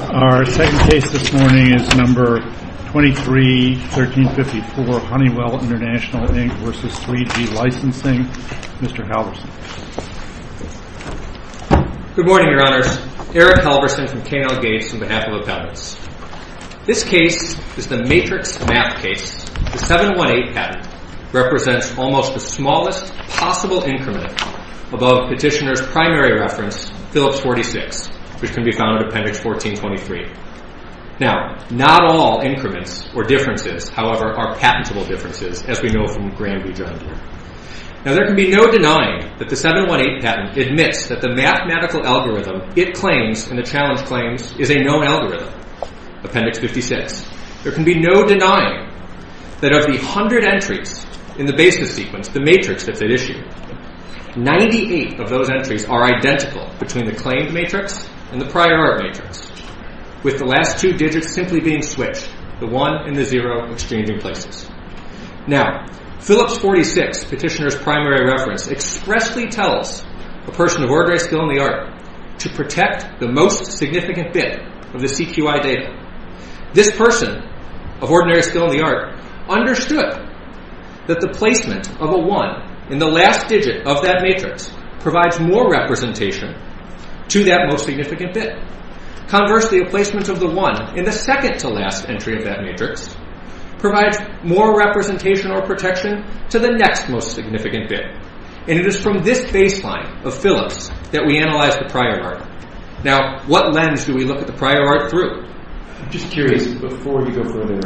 Our second case this morning is No. 23-1354, Honeywell International Inc. v. 3G Licensing. Mr. Halverson. Good morning, Your Honors. Eric Halverson from K&L Gates on behalf of Appendix. This case is the Matrix Map case. The 718 patent represents almost the smallest possible increment above petitioner's primary reference, Phillips 46, which can be found in Appendix 1423. Now, not all increments or differences, however, are patentable differences, as we know from Granby, Jr. Now, there can be no denying that the 718 patent admits that the mathematical algorithm it claims and the challenge claims is a known algorithm, Appendix 56. There can be no denying that of the hundred entries in the basis sequence, the matrix that they issue. Ninety-eight of those entries are identical between the claimed matrix and the prior art matrix, with the last two digits simply being switched, the 1 and the 0 exchanging places. Now, Phillips 46, petitioner's primary reference, expressly tells a person of ordinary skill in the art to protect the most significant bit of the CQI data. This person of ordinary skill in the art understood that the placement of a 1 in the last digit of that matrix provides more representation to that most significant bit. Conversely, a placement of the 1 in the second to last entry of that matrix provides more representation or protection to the next most significant bit. And it is from this baseline of Phillips that we analyze the prior art. Now, what lens do we look at the prior art through? I'm just curious, before you go further,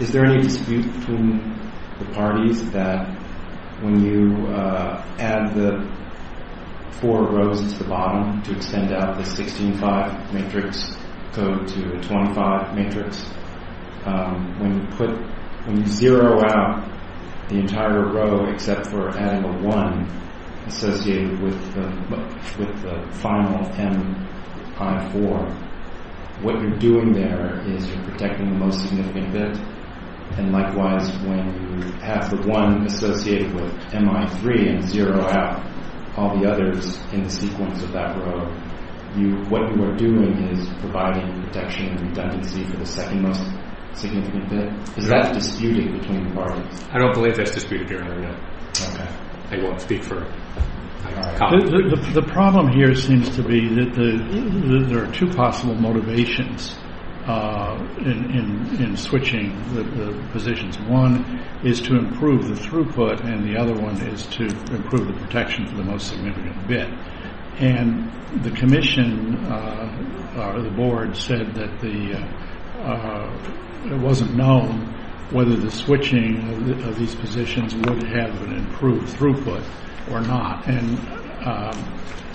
is there any dispute between the parties that when you add the four rows at the bottom to extend out the 16-5 matrix code to the 25 matrix, when you put, when you zero out the entire row except for adding a 1 associated with the final M-I-4, what you're doing there is you're protecting the most significant bit. And likewise, when you have the 1 associated with M-I-3 and zero out all the others in the sequence of that row, what you are doing is providing protection and redundancy for the second most significant bit. Is that disputed between the parties? I don't believe that's disputed here, no. I won't speak for colleagues. The problem here seems to be that there are two possible motivations in switching the positions. One is to improve the throughput, and the other one is to improve the protection for the most significant bit. And the commission or the board said that the, it wasn't known whether the switching of these positions would have an improved throughput or not. And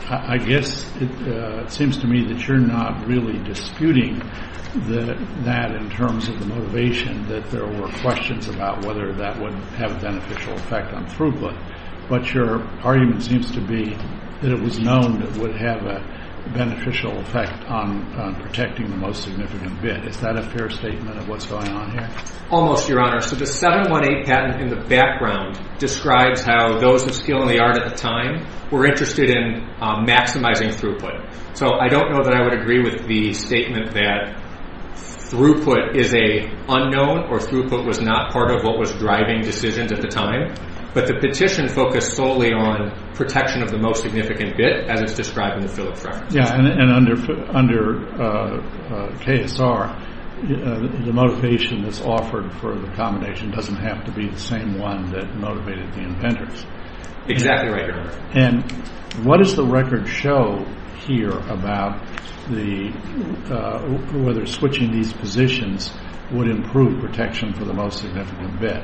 I guess it seems to me that you're not really disputing that in terms of the motivation, that there were questions about whether that would have a beneficial effect on throughput. But your argument seems to be that it was known that it would have a beneficial effect on protecting the most significant bit. Is that a fair statement of what's going on here? Almost, Your Honor. So the 718 patent in the background describes how those of skill and the art at the time were interested in maximizing throughput. So I don't know that I would agree with the statement that throughput is an unknown or throughput was not part of what was driving decisions at the time. But the petition focused solely on protection of the most significant bit, as it's described in the Phillips reference. Yeah, and under KSR, the motivation that's offered for the combination doesn't have to be the same one that motivated the inventors. Exactly right, Your Honor. And what does the record show here about whether switching these positions would improve protection for the most significant bit?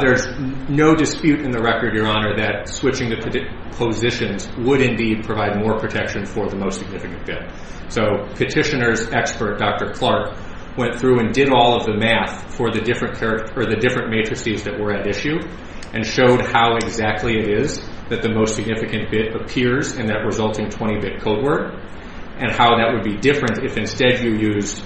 There's no dispute in the record, Your Honor, that switching the positions would indeed provide more protection for the most significant bit. So petitioner's expert, Dr. Clark, went through and did all of the math for the different matrices that were at issue and showed how exactly it is that the most significant bit appears in that resulting 20-bit code word and how that would be different if instead you used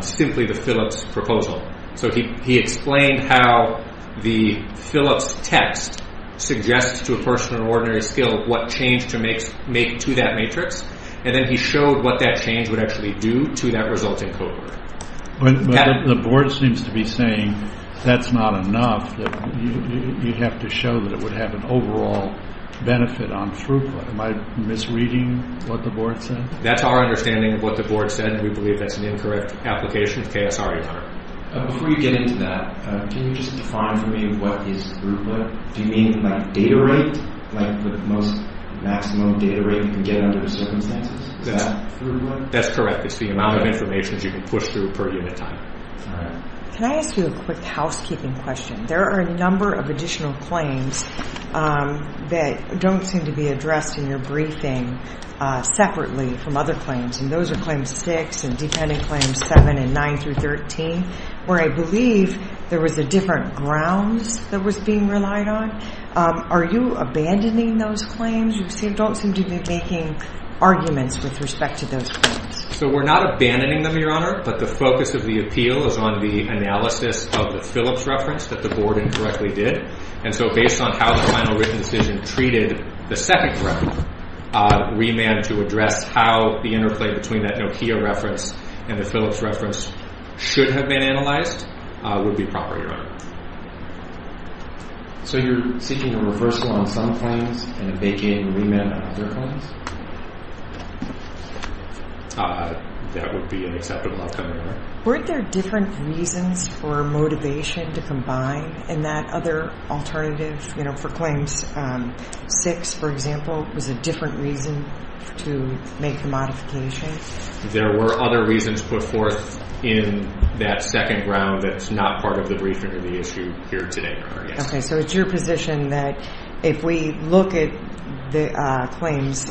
simply the Phillips proposal. So he explained how the Phillips text suggests to a person of ordinary skill what change to make to that matrix, and then he showed what that change would actually do to that resulting code word. But the board seems to be saying that's not enough, that you'd have to show that it would have an overall benefit on throughput. Am I misreading what the board said? That's our understanding of what the board said, and we believe that's an incorrect application of KSR, Your Honor. Before you get into that, can you just define for me what is throughput? Do you mean like data rate? Like the most maximum data rate you can get under the circumstances? Is that throughput? That's correct. It's the amount of information you can push through per unit time. All right. Can I ask you a quick housekeeping question? There are a number of additional claims that don't seem to be addressed in your briefing separately from other claims, and those are Claims 6 and Dependent Claims 7 and 9 through 13, where I believe there was a different grounds that was being relied on. Are you abandoning those claims? You don't seem to be making arguments with respect to those claims. So we're not abandoning them, Your Honor, but the focus of the appeal is on the analysis of the Phillips reference that the board incorrectly did. And so based on how the final written decision treated the second reference, we managed to address how the interplay between that Nokia reference and the Phillips reference should have been analyzed would be proper, Your Honor. So you're seeking a reversal on some claims and a begin remand on other claims? That would be an acceptable outcome, Your Honor. Weren't there different reasons for motivation to combine in that other alternative? You know, for Claims 6, for example, was a different reason to make the modification? There were other reasons put forth in that second ground that's not part of the briefing or the issue here today, Your Honor, yes. Okay, so it's your position that if we look at the claims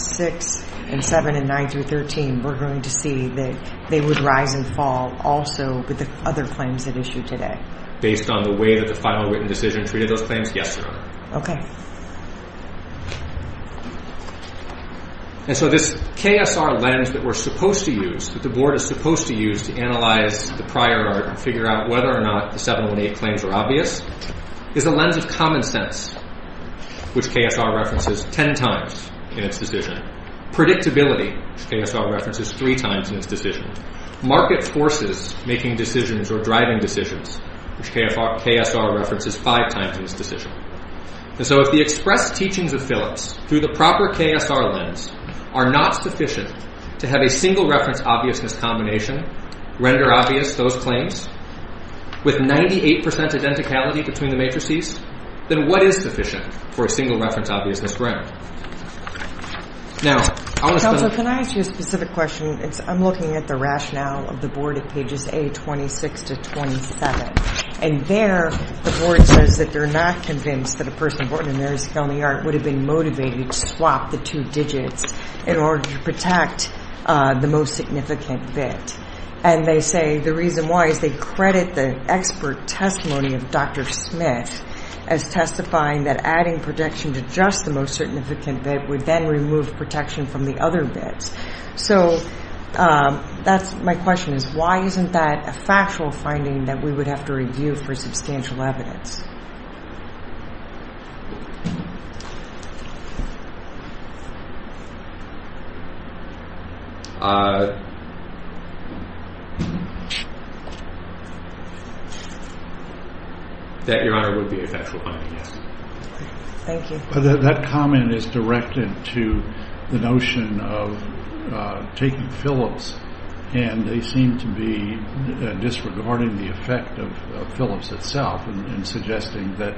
6 and 7 and 9 through 13, we're going to see that they would rise and fall also with the other claims at issue today? Based on the way that the final written decision treated those claims, yes, Your Honor. Okay. And so this KSR lens that we're supposed to use, that the Board is supposed to use to analyze the prior art and figure out whether or not the 718 claims are obvious, is a lens of common sense, which KSR references 10 times in its decision. Predictability, which KSR references 3 times in its decision. Market forces making decisions or driving decisions, which KSR references 5 times in its decision. And so if the expressed teachings of Phillips through the proper KSR lens are not sufficient to have a single reference obviousness combination render obvious those claims with 98% identicality between the matrices, then what is sufficient for a single reference obviousness to render? Counsel, can I ask you a specific question? I'm looking at the rationale of the Board at pages A26 to 27, and there the Board says that they're not convinced that a person born in Mary's County Art would have been motivated to swap the two digits in order to protect the most significant bit. And they say the reason why is they credit the expert testimony of Dr. Smith as testifying that adding protection to just the most significant bit would then remove protection from the other bits. So my question is why isn't that a factual finding that we would have to review for substantial evidence? That, Your Honor, would be a factual finding, yes. Thank you. That comment is directed to the notion of taking Phillips and they seem to be disregarding the effect of Phillips itself and suggesting that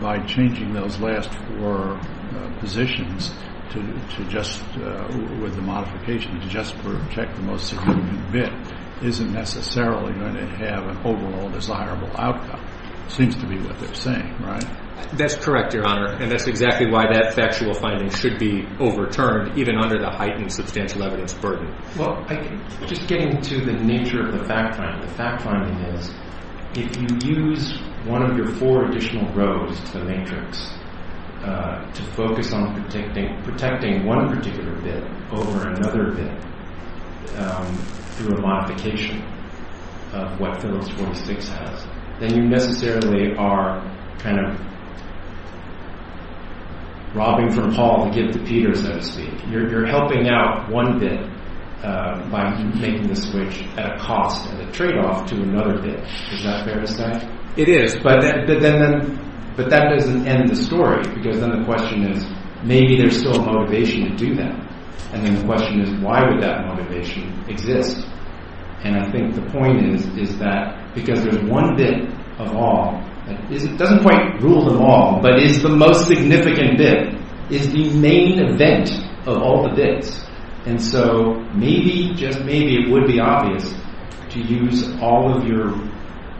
by changing those last four positions to just with the modification to just protect the most significant bit isn't necessarily going to have an overall desirable outcome. It seems to be what they're saying, right? That's correct, Your Honor. And that's exactly why that factual finding should be overturned even under the heightened substantial evidence burden. Well, just getting to the nature of the fact finding, the fact finding is if you use one of your four additional rows to the matrix to focus on protecting one particular bit over another bit through a modification of what Phillips 46 has, then you necessarily are kind of robbing from Paul to give to Peter, so to speak. You're helping out one bit by making the switch at a cost and a trade-off to another bit. Is that fair to say? It is, but that doesn't end the story because then the question is maybe there's still a motivation to do that. And then the question is why would that motivation exist? And I think the point is that because there's one bit of all, it doesn't quite rule them all, but it's the most significant bit. It's the main event of all the bits. And so maybe, just maybe it would be obvious to use all of your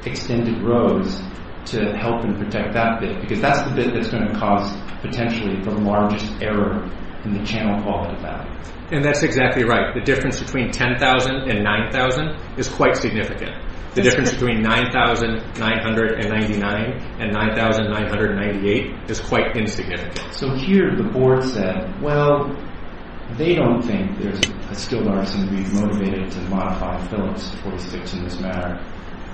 extended rows to help and protect that bit because that's the bit that's going to cause potentially the largest error in the channel quality value. And that's exactly right. The difference between 10,000 and 9,000 is quite significant. The difference between 9,999 and 9,998 is quite insignificant. So here the board said, well, they don't think there's still a reason to be motivated to modify Phillips 46 in this matter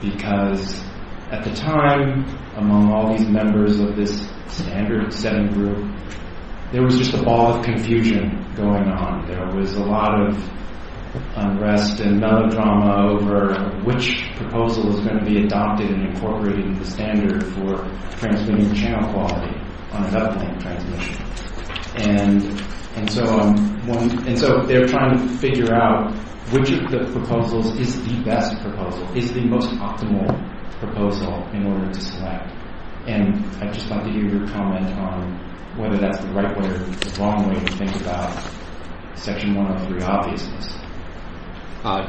because at the time, among all these members of this standard seven group, there was just a ball of confusion going on. There was a lot of unrest and melodrama over which proposal was going to be adopted and incorporated into the standard for transmitting channel quality on an uplink transmission. And so they're trying to figure out which of the proposals is the best proposal, is the most optimal proposal in order to select. And I'd just like to hear your comment on whether that's the right way or the wrong way to think about Section 103 obviousness.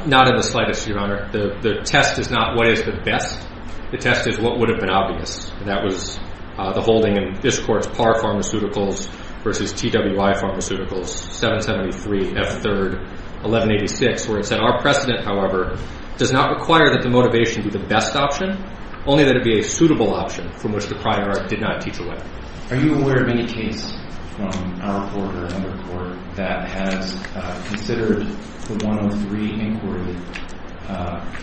Not in the slightest, Your Honor. The test is not what is the best. The test is what would have been obvious, and that was the holding in this Court's Parr Pharmaceuticals versus TWI Pharmaceuticals, 773F3, 1186, where it said, our precedent, however, does not require that the motivation be the best option, only that it be a suitable option from which the prior did not teach away. Are you aware of any case from our Court or another Court that has considered the 103 inquiry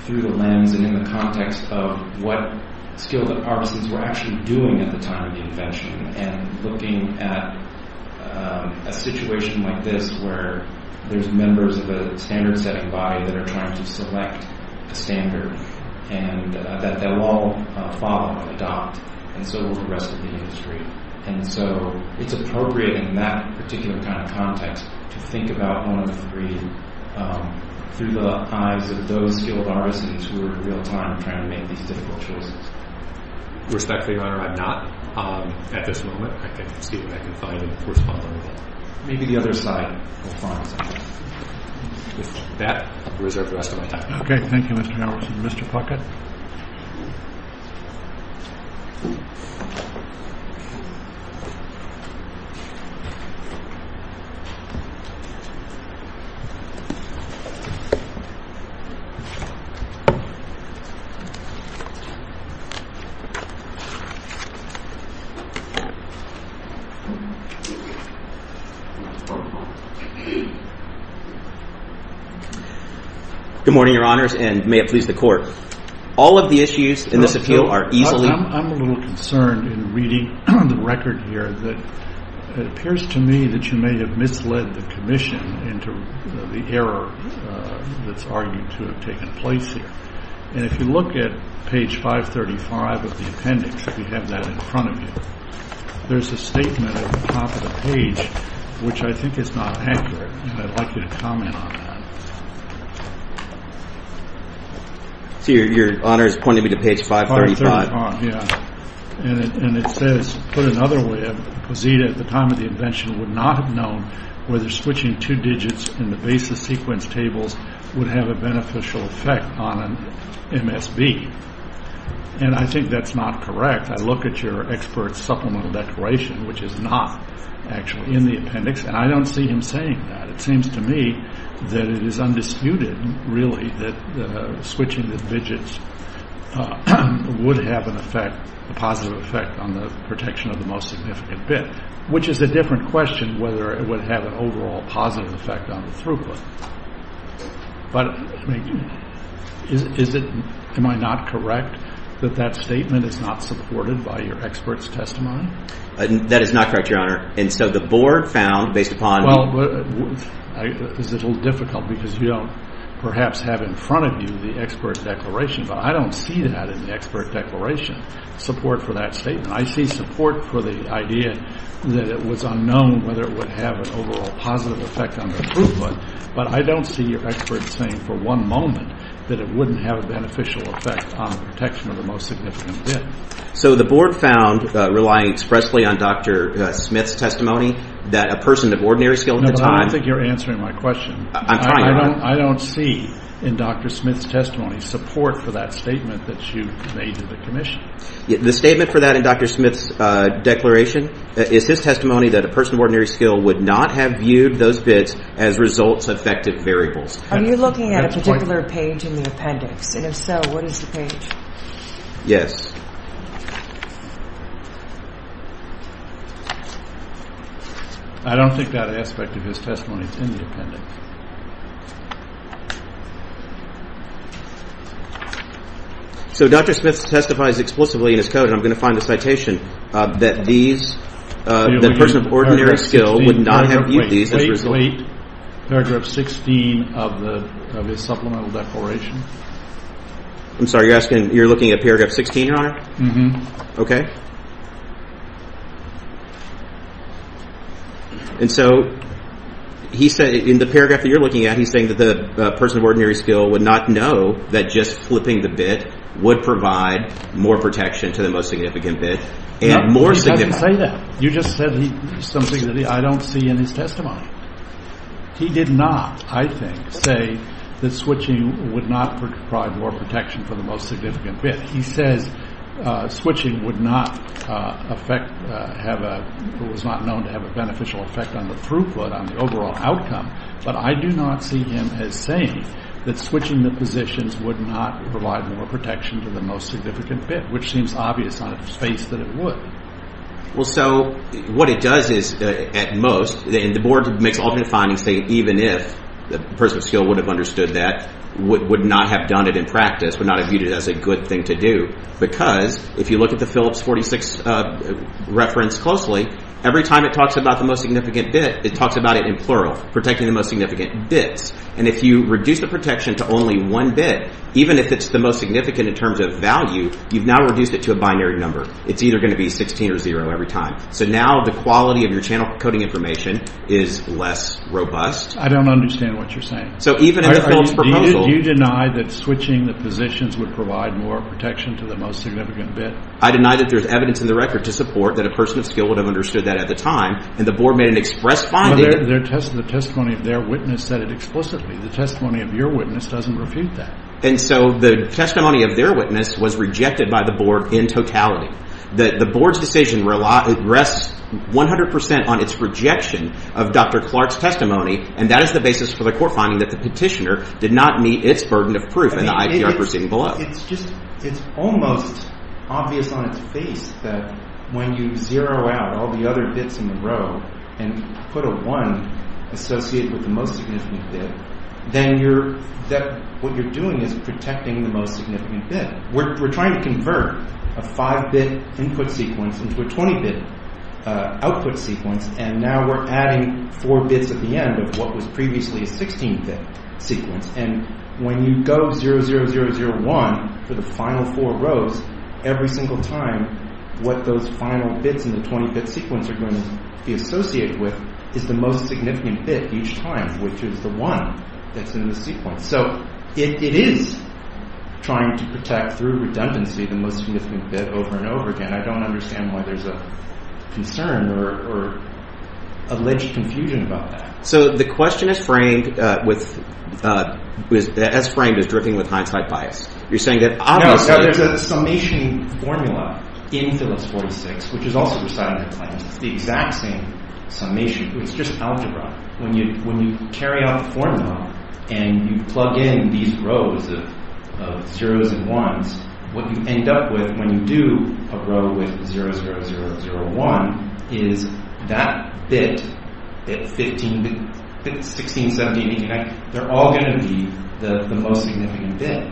through the lens and in the context of what skilled pharmacists were actually doing at the time of the invention and looking at a situation like this where there's members of a standard-setting body that are trying to select a standard that they'll all follow and adopt, and so will the rest of the industry? And so it's appropriate in that particular kind of context to think about 103 through the eyes of those skilled pharmacists who are in real time trying to make these difficult choices. Respectfully, Your Honor, I'm not at this moment. I can see what I can find and correspond with that. Maybe the other side will find something. With that, I'll reserve the rest of my time. Okay. Thank you, Mr. Nelson. Mr. Puckett. Good morning, Your Honors, and may it please the Court. All of the issues in this appeal are easily ---- I'm a little concerned in reading the record here that it appears to me that you may have misled the commission into the error that's argued to have taken place here. And if you look at page 535 of the appendix, if you have that in front of you, there's a statement at the top of the page which I think is not accurate, and I'd like you to comment on that. So Your Honor is pointing me to page 535. 535, yeah. And it says, put another way, Pazita at the time of the invention would not have known whether switching two digits in the basis sequence tables would have a beneficial effect on MSB. And I think that's not correct. I look at your expert supplemental declaration, which is not actually in the appendix, and I don't see him saying that. It seems to me that it is undisputed, really, that switching the digits would have an effect, a positive effect on the protection of the most significant bit, which is a different question whether it would have an overall positive effect on the throughput. But is it ---- am I not correct that that statement is not supported by your expert's testimony? That is not correct, Your Honor. And so the board found, based upon ---- Well, this is a little difficult because you don't perhaps have in front of you the expert's declaration, but I don't see that in the expert declaration, support for that statement. I see support for the idea that it was unknown whether it would have an overall positive effect on the throughput, but I don't see your expert saying for one moment that it wouldn't have a beneficial effect on the protection of the most significant bit. So the board found, relying expressly on Dr. Smith's testimony, that a person of ordinary skill at the time ---- No, but I don't think you're answering my question. I'm trying, Your Honor. I don't see in Dr. Smith's testimony support for that statement that you made to the commission. The statement for that in Dr. Smith's declaration is his testimony that a person of ordinary skill would not have viewed those bits as results-affected variables. Are you looking at a particular page in the appendix? And if so, what is the page? Yes. I don't think that aspect of his testimony is in the appendix. So Dr. Smith testifies explicitly in his code, and I'm going to find the citation, that these, that a person of ordinary skill would not have viewed these as results- Wait, wait, wait. Paragraph 16 of his supplemental declaration. I'm sorry, you're asking, you're looking at paragraph 16, Your Honor? Mm-hmm. Okay. And so he said, in the paragraph that you're looking at, he's saying that the person of ordinary skill would not know that just flipping the bit would provide more protection to the most significant bit and more significant. No, he doesn't say that. You just said something that I don't see in his testimony. He did not, I think, say that switching would not provide more protection for the most significant bit. He says switching would not affect, have a, it was not known to have a beneficial effect on the throughput, on the overall outcome. But I do not see him as saying that switching the positions would not provide more protection to the most significant bit, which seems obvious on its face that it would. Well, so what it does is, at most, and the board makes alternate findings saying even if the person of skill would have understood that, would not have done it in practice, would not have viewed it as a good thing to do. Because if you look at the Phillips 46 reference closely, every time it talks about the most significant bit, it talks about it in plural, protecting the most significant bits. And if you reduce the protection to only one bit, even if it's the most significant in terms of value, you've now reduced it to a binary number. It's either going to be 16 or zero every time. So now the quality of your channel coding information is less robust. I don't understand what you're saying. So even in the Phillips proposal... Do you deny that switching the positions would provide more protection to the most significant bit? I deny that there's evidence in the record to support that a person of skill would have understood that at the time, and the board made an express finding... The testimony of their witness said it explicitly. The testimony of your witness doesn't refute that. And so the testimony of their witness was rejected by the board in totality. The board's decision rests 100% on its rejection of Dr. Clark's testimony, and that is the basis for the court finding that the petitioner did not meet its burden of proof in the IPR proceeding below. It's almost obvious on its face that when you zero out all the other bits in the row and put a one associated with the most significant bit, then what you're doing is protecting the most significant bit. We're trying to convert a five-bit input sequence into a 20-bit output sequence, and now we're adding four bits at the end of what was previously a 16-bit sequence. And when you go 0, 0, 0, 0, 1 for the final four rows, every single time what those final bits in the 20-bit sequence are going to be associated with is the most significant bit each time, which is the one that's in the sequence. So it is trying to protect through redundancy the most significant bit over and over again. I don't understand why there's a concern or alleged confusion about that. So the question as framed is driven with hindsight bias. You're saying that obviously— No, there's a summation formula in Phyllis 46, which is also recited in her claims. It's the exact same summation. It's just algebra. When you carry out the formula and you plug in these rows of 0s and 1s, what you end up with when you do a row with 0, 0, 0, 0, 1 is that bit, 16, 17, 18, 19, they're all going to be the most significant bit.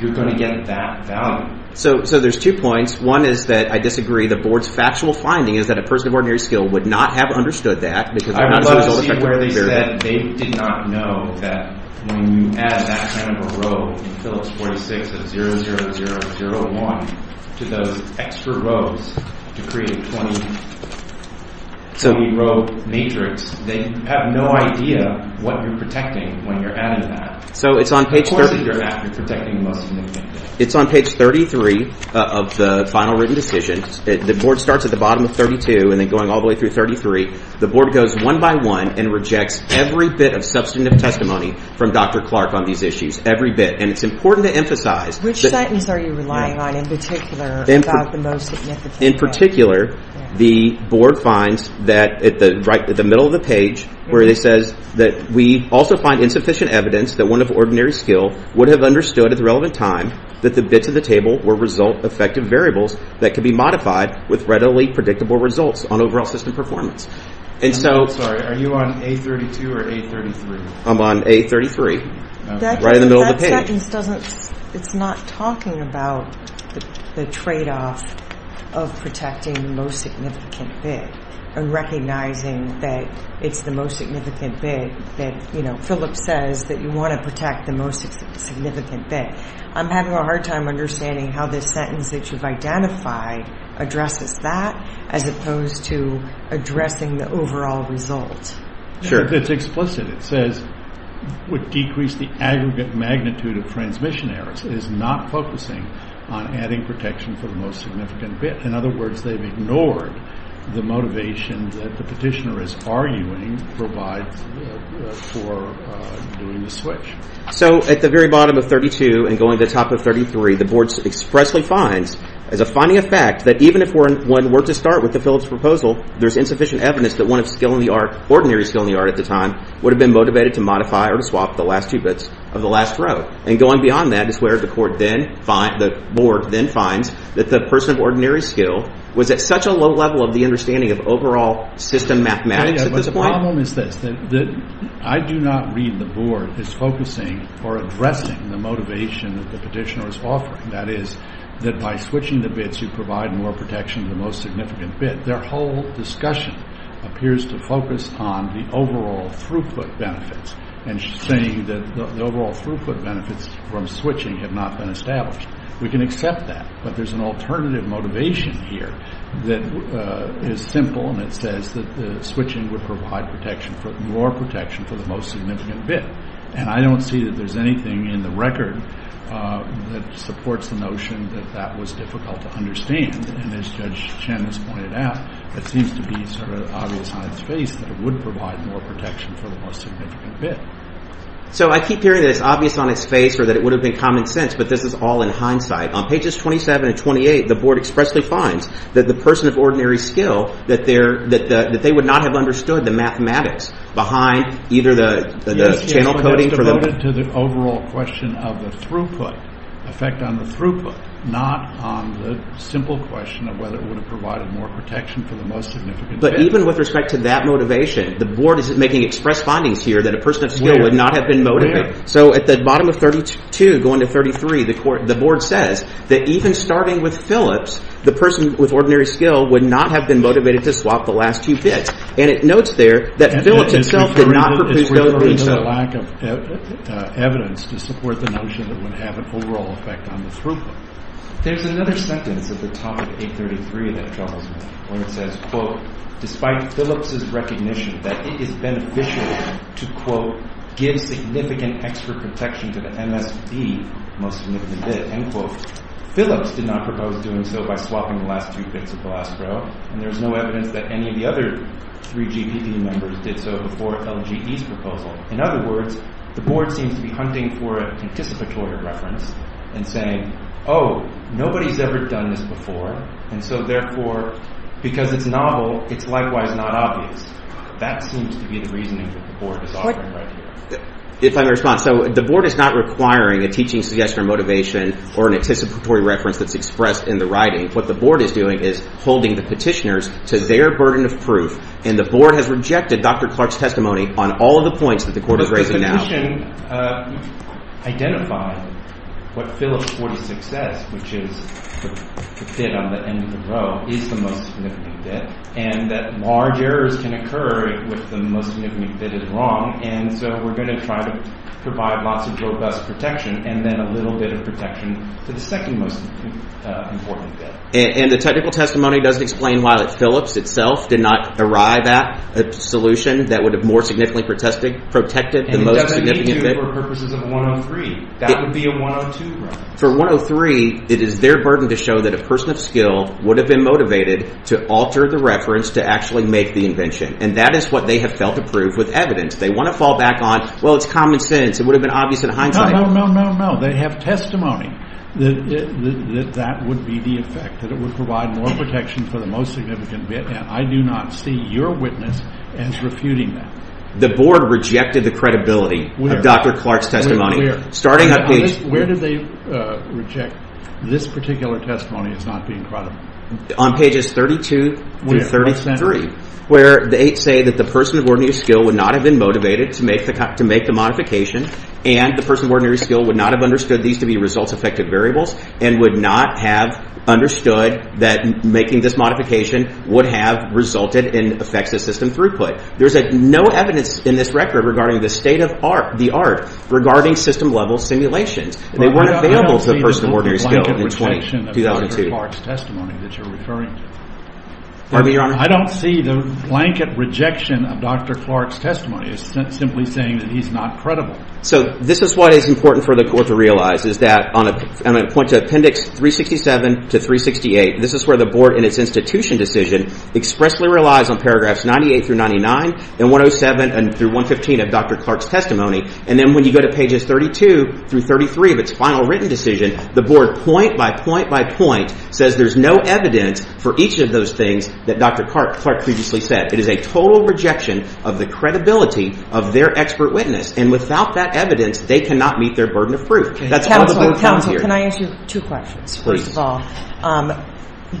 You're going to get that value. So there's two points. One is that I disagree the board's factual finding is that a person of ordinary skill would not have understood that because they're not as good as a legal expert. I would love to see where they said they did not know that when you add that kind of a row in Phyllis 46 of 0, 0, 0, 0, 1 to those extra rows to create a 20-row matrix, they have no idea what you're protecting when you're adding that. So it's on page— Of course, you're protecting the most significant bit. It's on page 33 of the final written decision. The board starts at the bottom of 32 and then going all the way through 33. The board goes one by one and rejects every bit of substantive testimony from Dr. Clark on these issues, every bit. And it's important to emphasize— Which sentence are you relying on in particular about the most significant bit? In particular, the board finds that at the middle of the page where it says that we also find insufficient evidence that one of ordinary skill would have understood at the relevant time that the bits of the table were result-effective variables that could be modified with readily predictable results on overall system performance. And so— I'm sorry. Are you on A32 or A33? I'm on A33, right in the middle of the page. That sentence doesn't—it's not talking about the tradeoff of protecting the most significant bit and recognizing that it's the most significant bit that, you know, Phillips says that you want to protect the most significant bit. I'm having a hard time understanding how this sentence that you've identified addresses that as opposed to addressing the overall result. It's explicit. It says, would decrease the aggregate magnitude of transmission errors. It is not focusing on adding protection for the most significant bit. In other words, they've ignored the motivation that the petitioner is arguing provides for doing the switch. So at the very bottom of A32 and going to the top of A33, the board expressly finds as a finding of fact that even if one were to start with the Phillips proposal, there's insufficient evidence that one of ordinary skill in the art at the time would have been motivated to modify or to swap the last two bits of the last row. And going beyond that is where the board then finds that the person of ordinary skill was at such a low level of the understanding of overall system mathematics at this point— addressing or addressing the motivation that the petitioner is offering. That is, that by switching the bits, you provide more protection to the most significant bit. Their whole discussion appears to focus on the overall throughput benefits and saying that the overall throughput benefits from switching have not been established. We can accept that, but there's an alternative motivation here that is simple, and it says that switching would provide more protection for the most significant bit. And I don't see that there's anything in the record that supports the notion that that was difficult to understand. And as Judge Chen has pointed out, it seems to be sort of obvious on its face that it would provide more protection for the most significant bit. So I keep hearing that it's obvious on its face or that it would have been common sense, but this is all in hindsight. On pages 27 and 28, the board expressly finds that the person of ordinary skill, that they would not have understood the mathematics behind either the channel coding for the... It's devoted to the overall question of the throughput, effect on the throughput, not on the simple question of whether it would have provided more protection for the most significant bit. But even with respect to that motivation, the board is making express findings here that a person of skill would not have been motivated. So at the bottom of 32, going to 33, the board says that even starting with Phillips, the person with ordinary skill would not have been motivated to swap the last two bits. And it notes there that Phillips itself did not propose doing so. It's referring to the lack of evidence to support the notion that it would have an overall effect on the throughput. There's another sentence at the top of 833 that troubles me, where it says, quote, despite Phillips' recognition that it is beneficial to, quote, give significant extra protection to the MSB, most significant bit, end quote, Phillips did not propose doing so by swapping the last two bits of the last row, and there's no evidence that any of the other three GPD members did so before LGD's proposal. In other words, the board seems to be hunting for an anticipatory reference and saying, oh, nobody's ever done this before, and so therefore, because it's novel, it's likewise not obvious. That seems to be the reasoning that the board is offering right here. If I may respond. So the board is not requiring a teaching suggestion or motivation or an anticipatory reference that's expressed in the writing. What the board is doing is holding the petitioners to their burden of proof, and the board has rejected Dr. Clark's testimony on all of the points that the court is raising now. But the petition identified what Phillips 40-6 says, which is the bit on the end of the row is the most significant bit, and that large errors can occur if the most significant bit is wrong, and so we're going to try to provide lots of robust protection and then a little bit of protection to the second most important bit. And the technical testimony doesn't explain why Phillips itself did not arrive at a solution that would have more significantly protected the most significant bit. And it doesn't meet you for purposes of 103. That would be a 102 reference. For 103, it is their burden to show that a person of skill would have been motivated to alter the reference to actually make the invention, and that is what they have failed to prove with evidence. They want to fall back on, well, it's common sense. It would have been obvious in hindsight. No, no, no, no, no. They have testimony that that would be the effect, that it would provide more protection for the most significant bit, and I do not see your witness as refuting that. The board rejected the credibility of Dr. Clark's testimony. Where did they reject this particular testimony as not being credible? On pages 32 through 33, where they say that the person of ordinary skill would not have been motivated to make the modification and the person of ordinary skill would not have understood these to be results-affected variables and would not have understood that making this modification would have resulted in effective system throughput. There is no evidence in this record regarding the state of the art regarding system-level simulations. They weren't available to the person of ordinary skill in 2002. I don't see the blanket rejection of Dr. Clark's testimony that you're referring to. So this is what is important for the court to realize, is that on a point of appendix 367 to 368, this is where the board in its institution decision expressly relies on paragraphs 98 through 99 and 107 through 115 of Dr. Clark's testimony, and then when you go to pages 32 through 33 of its final written decision, the board point by point by point says there's no evidence for each of those things that Dr. Clark previously said. It is a total rejection of the credibility of their expert witness, and without that evidence, they cannot meet their burden of proof. That's what the move comes here. Counsel, can I ask you two questions, first of all?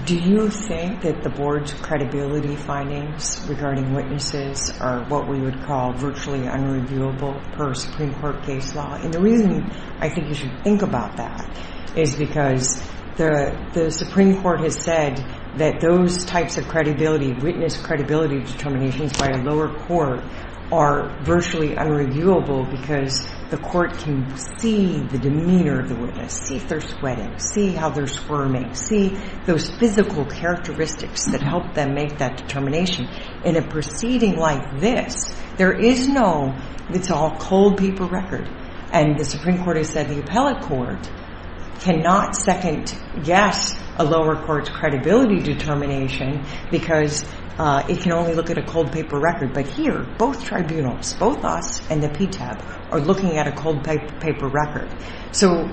Do you think that the board's credibility findings regarding witnesses are what we would call virtually unreviewable per Supreme Court case law? And the reason I think you should think about that is because the Supreme Court has said that those types of credibility, witness credibility determinations by a lower court are virtually unreviewable because the court can see the demeanor of the witness, see if they're sweating, see how they're squirming, see those physical characteristics that help them make that determination. In a proceeding like this, there is no, it's all cold paper record, and the Supreme Court has said the appellate court cannot second guess a lower court's credibility determination because it can only look at a cold paper record. But here, both tribunals, both us and the PTAB, are looking at a cold paper record. So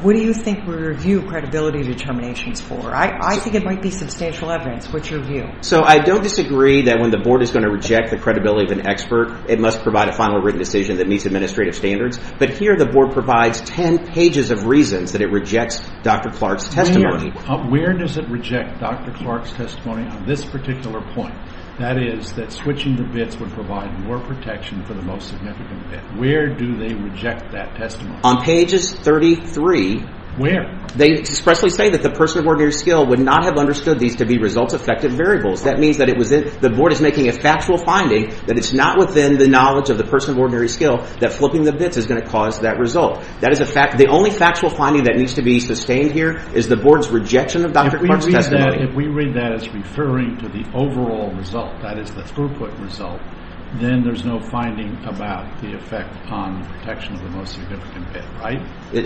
what do you think we review credibility determinations for? I think it might be substantial evidence. What's your view? So I don't disagree that when the board is going to reject the credibility of an expert, it must provide a final written decision that meets administrative standards, but here the board provides 10 pages of reasons that it rejects Dr. Clark's testimony. Where does it reject Dr. Clark's testimony on this particular point? That is, that switching the bits would provide more protection for the most significant bit. Where do they reject that testimony? On pages 33. Where? They expressly say that the person of ordinary skill would not have understood these to be result-effective variables. That means that the board is making a factual finding that it's not within the knowledge of the person of ordinary skill that flipping the bits is going to cause that result. The only factual finding that needs to be sustained here is the board's rejection of Dr. Clark's testimony. If we read that as referring to the overall result, that is, the throughput result, then there's no finding about the effect on the protection of the most significant bit, right?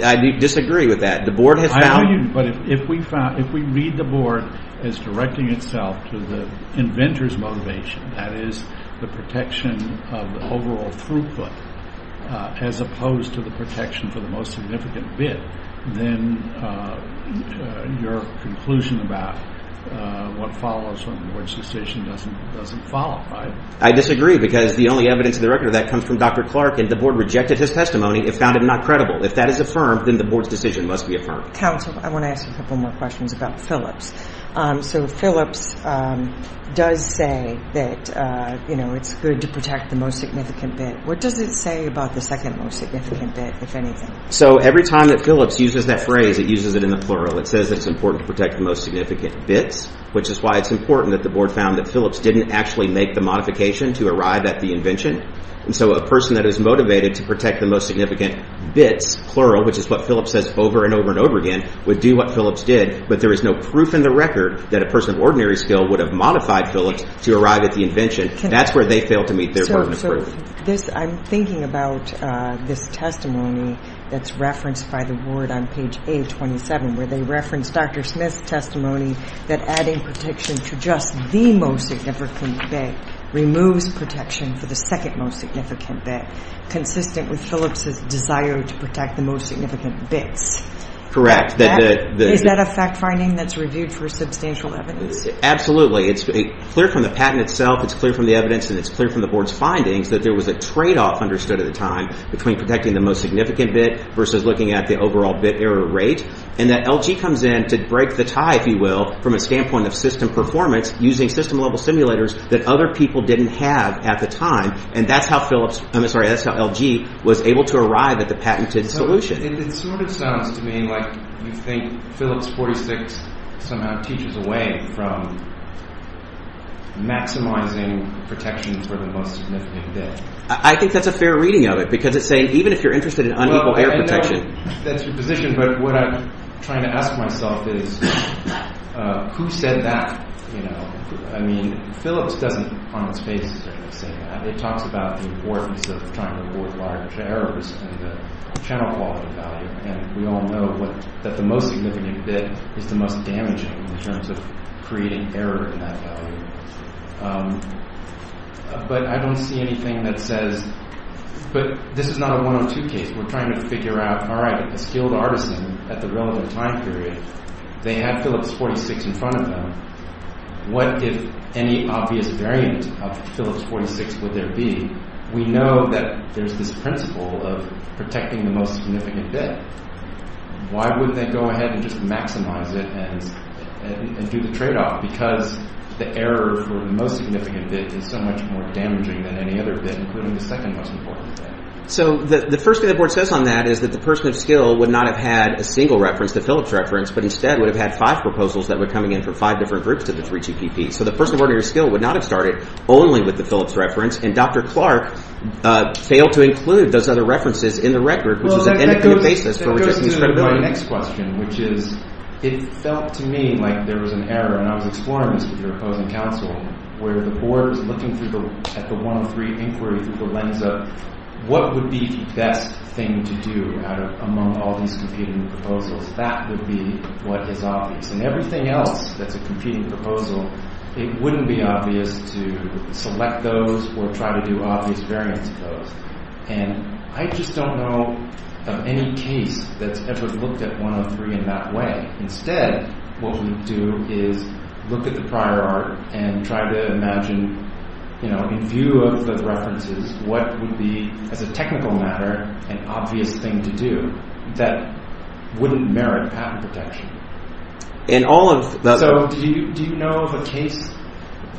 I disagree with that. I know you do, but if we read the board as directing itself to the inventor's motivation, that is, the protection of the overall throughput, as opposed to the protection for the most significant bit, then your conclusion about what follows from the board's decision doesn't follow, right? I disagree because the only evidence of the record of that comes from Dr. Clark, and the board rejected his testimony. It found him not credible. If that is affirmed, then the board's decision must be affirmed. Counsel, I want to ask you a couple more questions about Phillips. So Phillips does say that it's good to protect the most significant bit. What does it say about the second most significant bit, if anything? So every time that Phillips uses that phrase, it uses it in the plural. It says it's important to protect the most significant bits, which is why it's important that the board found that Phillips didn't actually make the modification to arrive at the invention. And so a person that is motivated to protect the most significant bits, plural, which is what Phillips says over and over and over again, would do what Phillips did, but there is no proof in the record that a person of ordinary skill would have modified Phillips to arrive at the invention. That's where they fail to meet their burden of proof. So I'm thinking about this testimony that's referenced by the board on page 827, where they reference Dr. Smith's testimony that adding protection to just the most significant bit removes protection for the second most significant bit, consistent with Phillips' desire to protect the most significant bits. Correct. Is that a fact-finding that's reviewed for substantial evidence? Absolutely. It's clear from the patent itself, it's clear from the evidence, and it's clear from the board's findings that there was a tradeoff understood at the time between protecting the most significant bit versus looking at the overall bit error rate, and that LG comes in to break the tie, if you will, from a standpoint of system performance using system-level simulators that other people didn't have at the time, and that's how LG was able to arrive at the patented solution. It sort of sounds to me like you think Phillips 46 somehow teaches away from maximizing protection for the most significant bit. I think that's a fair reading of it, because it's saying even if you're interested in unequal error protection... Well, I know that's your position, but what I'm trying to ask myself is who said that? I mean, Phillips doesn't, on its face, say that. It talks about the importance of trying to avoid large errors and the channel quality value, and we all know that the most significant bit is the most damaging in terms of creating error in that value. But I don't see anything that says... But this is not a 102 case. We're trying to figure out, all right, a skilled artisan at the relevant time period, they had Phillips 46 in front of them. What if any obvious variant of Phillips 46 would there be? We know that there's this principle of protecting the most significant bit. Why wouldn't they go ahead and just maximize it and do the tradeoff? Because the error for the most significant bit is so much more damaging than any other bit, including the second most important bit. So the first thing the board says on that is that the person of skill would not have had a single reference, the Phillips reference, but instead would have had five proposals that were coming in from five different groups to the 3GPP. So the person of ordinary skill would not have started only with the Phillips reference, and Dr. Clark failed to include those other references in the record, which is an independent basis for rejecting his credibility. My next question, which is it felt to me like there was an error, and I was exploring this with your opposing counsel, where the board was looking at the 103 inquiry through the lens of what would be the best thing to do among all these competing proposals. That would be what is obvious. And everything else that's a competing proposal, it wouldn't be obvious to select those or try to do obvious variants of those. And I just don't know of any case that's ever looked at 103 in that way. Instead, what we do is look at the prior art and try to imagine, in view of the references, what would be, as a technical matter, an obvious thing to do that wouldn't merit patent protection. So do you know of a case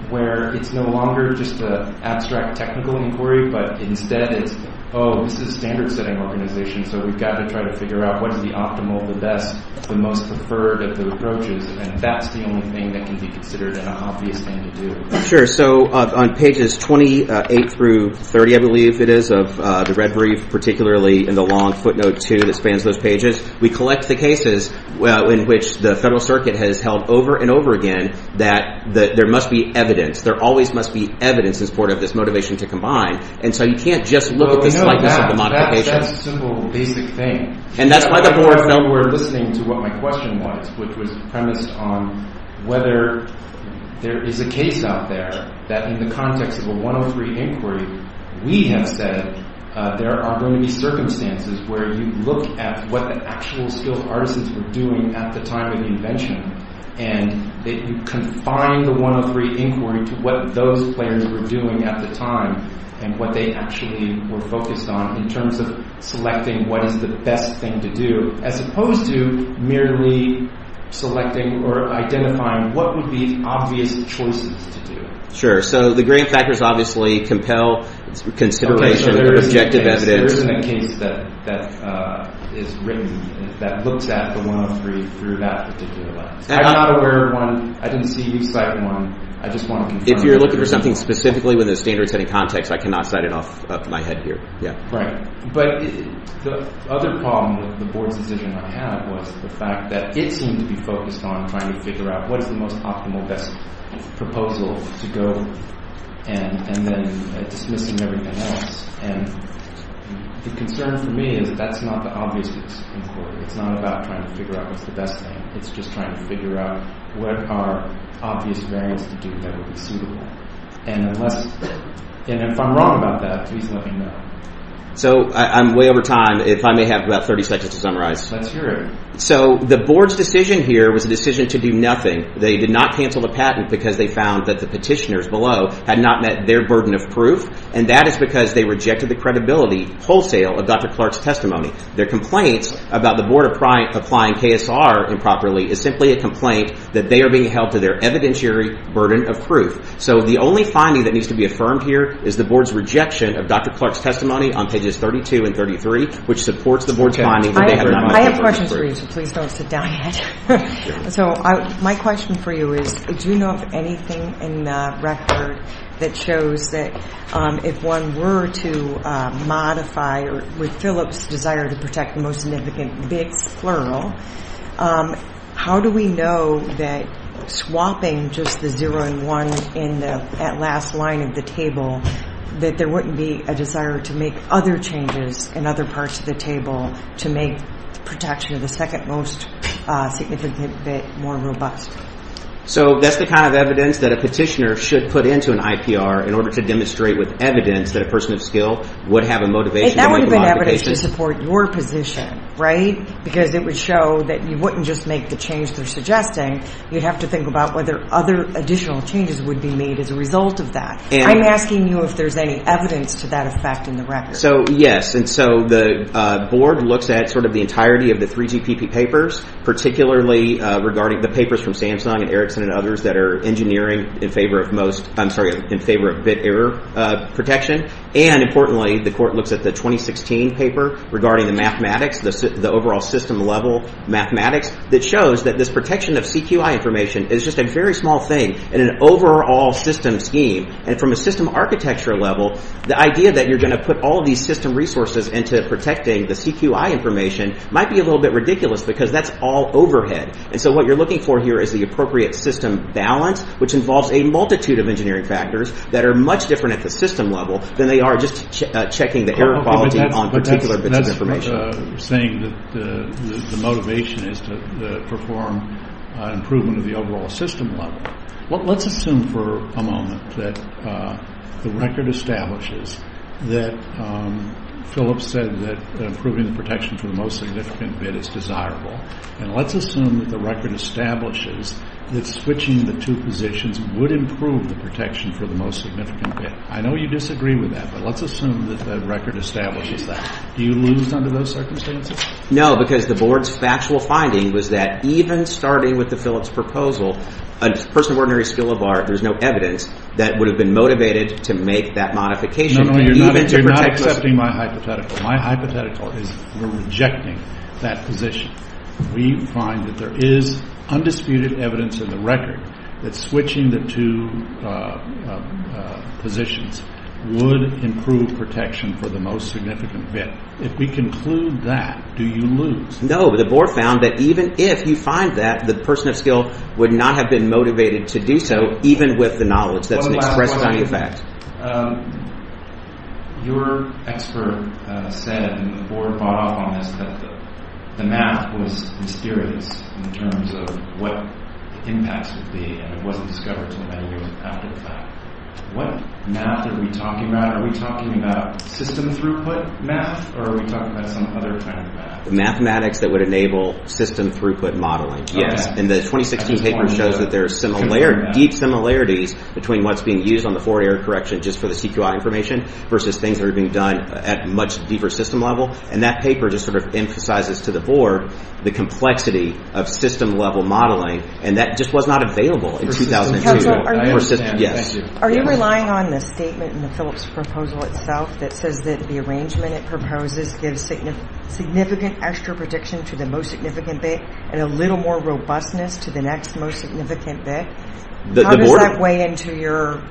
where it's no longer just an abstract technical inquiry, but instead it's, oh, this is a standard-setting organization, so we've got to try to figure out what is the optimal, the best, the most preferred of the approaches, and that's the only thing that can be considered an obvious thing to do. Sure. So on pages 28 through 30, I believe it is, of the red brief, particularly in the long footnote 2 that spans those pages, we collect the cases in which the Federal Circuit has held over and over again that there must be evidence, there always must be evidence in support of this motivation to combine. And so you can't just look at the slightness of the modification. That's a simple, basic thing. And that's why the board felt we were listening to what my question was, which was premised on whether there is a case out there that in the context of a 103 inquiry, we have said there are going to be circumstances where you look at what the actual skilled artisans were doing at the time of the invention, and that you confine the 103 inquiry to what those players were doing at the time and what they actually were focused on in terms of selecting what is the best thing to do, as opposed to merely selecting or identifying what would be obvious choices to do. Sure. So the grain factors obviously compel consideration, objective evidence. There isn't a case that is written that looks at the 103 through that particular lens. I'm not aware of one. I didn't see you cite one. I just want to confirm. If you're looking for something specifically within a standards-heading context, I cannot cite it off my head here. Right. But the other problem with the board's decision I had was the fact that it seemed to be focused on trying to figure out what is the most optimal best proposal to go, and then dismissing everything else. And the concern for me is that that's not the obviousness of this inquiry. It's not about trying to figure out what's the best thing. It's just trying to figure out what are obvious variants to do that would be suitable. And if I'm wrong about that, please let me know. So I'm way over time. If I may have about 30 seconds to summarize. That's great. So the board's decision here was a decision to do nothing. They did not cancel the patent because they found that the petitioners below had not met their burden of proof, and that is because they rejected the credibility wholesale of Dr. Clark's testimony. Their complaint about the board applying KSR improperly is simply a complaint that they are being held to their evidentiary burden of proof. So the only finding that needs to be affirmed here is the board's rejection of Dr. Clark's testimony on pages 32 and 33, which supports the board's finding that they have not met their burden of proof. I have questions for you, so please don't sit down yet. So my question for you is, do you know of anything in the record that shows that if one were to modify, or with Phillips' desire to protect the most significant bits, plural, how do we know that swapping just the 0 and 1 in that last line of the table, that there wouldn't be a desire to make other changes in other parts of the table to make protection of the second most significant bit more robust? So that's the kind of evidence that a petitioner should put into an IPR in order to demonstrate with evidence that a person of skill would have a motivation. That would have been evidence to support your position, right? Because it would show that you wouldn't just make the change they're suggesting. You'd have to think about whether other additional changes would be made as a result of that. I'm asking you if there's any evidence to that effect in the record. So, yes. And so the board looks at sort of the entirety of the 3GPP papers, particularly regarding the papers from Samsung and Erickson and others that are engineering in favor of most, I'm sorry, in favor of bit error protection. And importantly, the court looks at the 2016 paper regarding the mathematics, the overall system level mathematics, that shows that this protection of CQI information is just a very small thing in an overall system scheme. And from a system architecture level, the idea that you're going to put all of these system resources into protecting the CQI information might be a little bit ridiculous because that's all overhead. And so what you're looking for here is the appropriate system balance, which involves a multitude of engineering factors that are much different at the system level than they are just checking the error quality on particular bits of information. So you're saying that the motivation is to perform improvement of the overall system level. Well, let's assume for a moment that the record establishes that Phillips said that improving the protection for the most significant bit is desirable. And let's assume that the record establishes that switching the two positions would improve the protection for the most significant bit. I know you disagree with that, but let's assume that the record establishes that. Do you lose under those circumstances? No, because the board's factual finding was that even starting with the Phillips proposal, a person of ordinary skill of art, there's no evidence that would have been motivated to make that modification. No, no, you're not accepting my hypothetical. My hypothetical is we're rejecting that position. We find that there is undisputed evidence in the record that switching the two positions would improve protection for the most significant bit. If we conclude that, do you lose? No, the board found that even if you find that, the person of skill would not have been motivated to do so, even with the knowledge that's expressed by the fact. Your expert said, and the board bought off on this, that the math was mysterious in terms of what the impacts would be, and it wasn't discovered until many years after the fact. What math are we talking about? Are we talking about system throughput math, or are we talking about some other kind of math? Mathematics that would enable system throughput modeling, yes. And the 2016 paper shows that there are deep similarities between what's being used on the forward error correction just for the CQI information versus things that are being done at much deeper system level, and that paper just sort of emphasizes to the board the complexity of system-level modeling, and that just was not available in 2002. Are you relying on the statement in the Phillips proposal itself that says that the arrangement it proposes gives significant extra protection to the most significant bit and a little more robustness to the next most significant bit? How does that weigh into your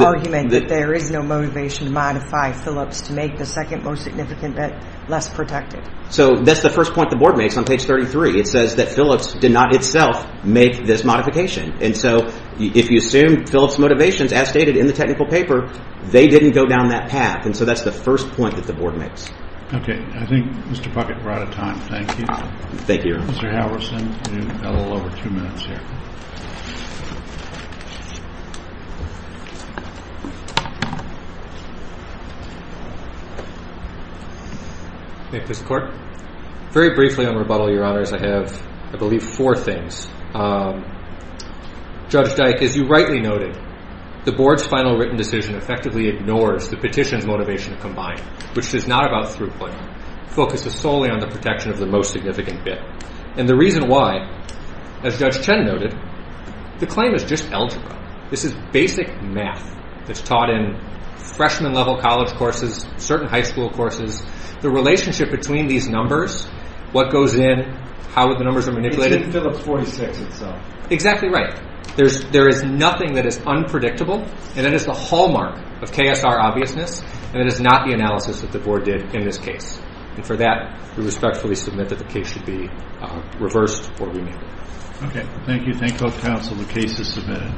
argument that there is no motivation to modify Phillips to make the second most significant bit less protected? So that's the first point the board makes on page 33. It says that Phillips did not itself make this modification, and so if you assume Phillips motivations as stated in the technical paper, they didn't go down that path, and so that's the first point that the board makes. Okay. I think, Mr. Puckett, we're out of time. Thank you. Thank you. Mr. Halverson, you've got a little over two minutes here. Thank you, Mr. Court. Very briefly, on rebuttal, Your Honors, I have, I believe, four things. Judge Dyke, as you rightly noted, the board's final written decision effectively ignores the petition's motivation combined, which is not about throughplay. The focus is solely on the protection of the most significant bit, and the reason why, as Judge Chen noted, the claim is just algebra. This is basic math that's taught in freshman-level college courses, certain high school courses. The relationship between these numbers, what goes in, how the numbers are manipulated. It's in Phillips 46 itself. Exactly right. There is nothing that is unpredictable, and that is the hallmark of KSR obviousness, and it is not the analysis that the board did in this case. And for that, we respectfully submit that the case should be reversed or remanded. Okay. Thank you. Thank both counsel. The case is submitted.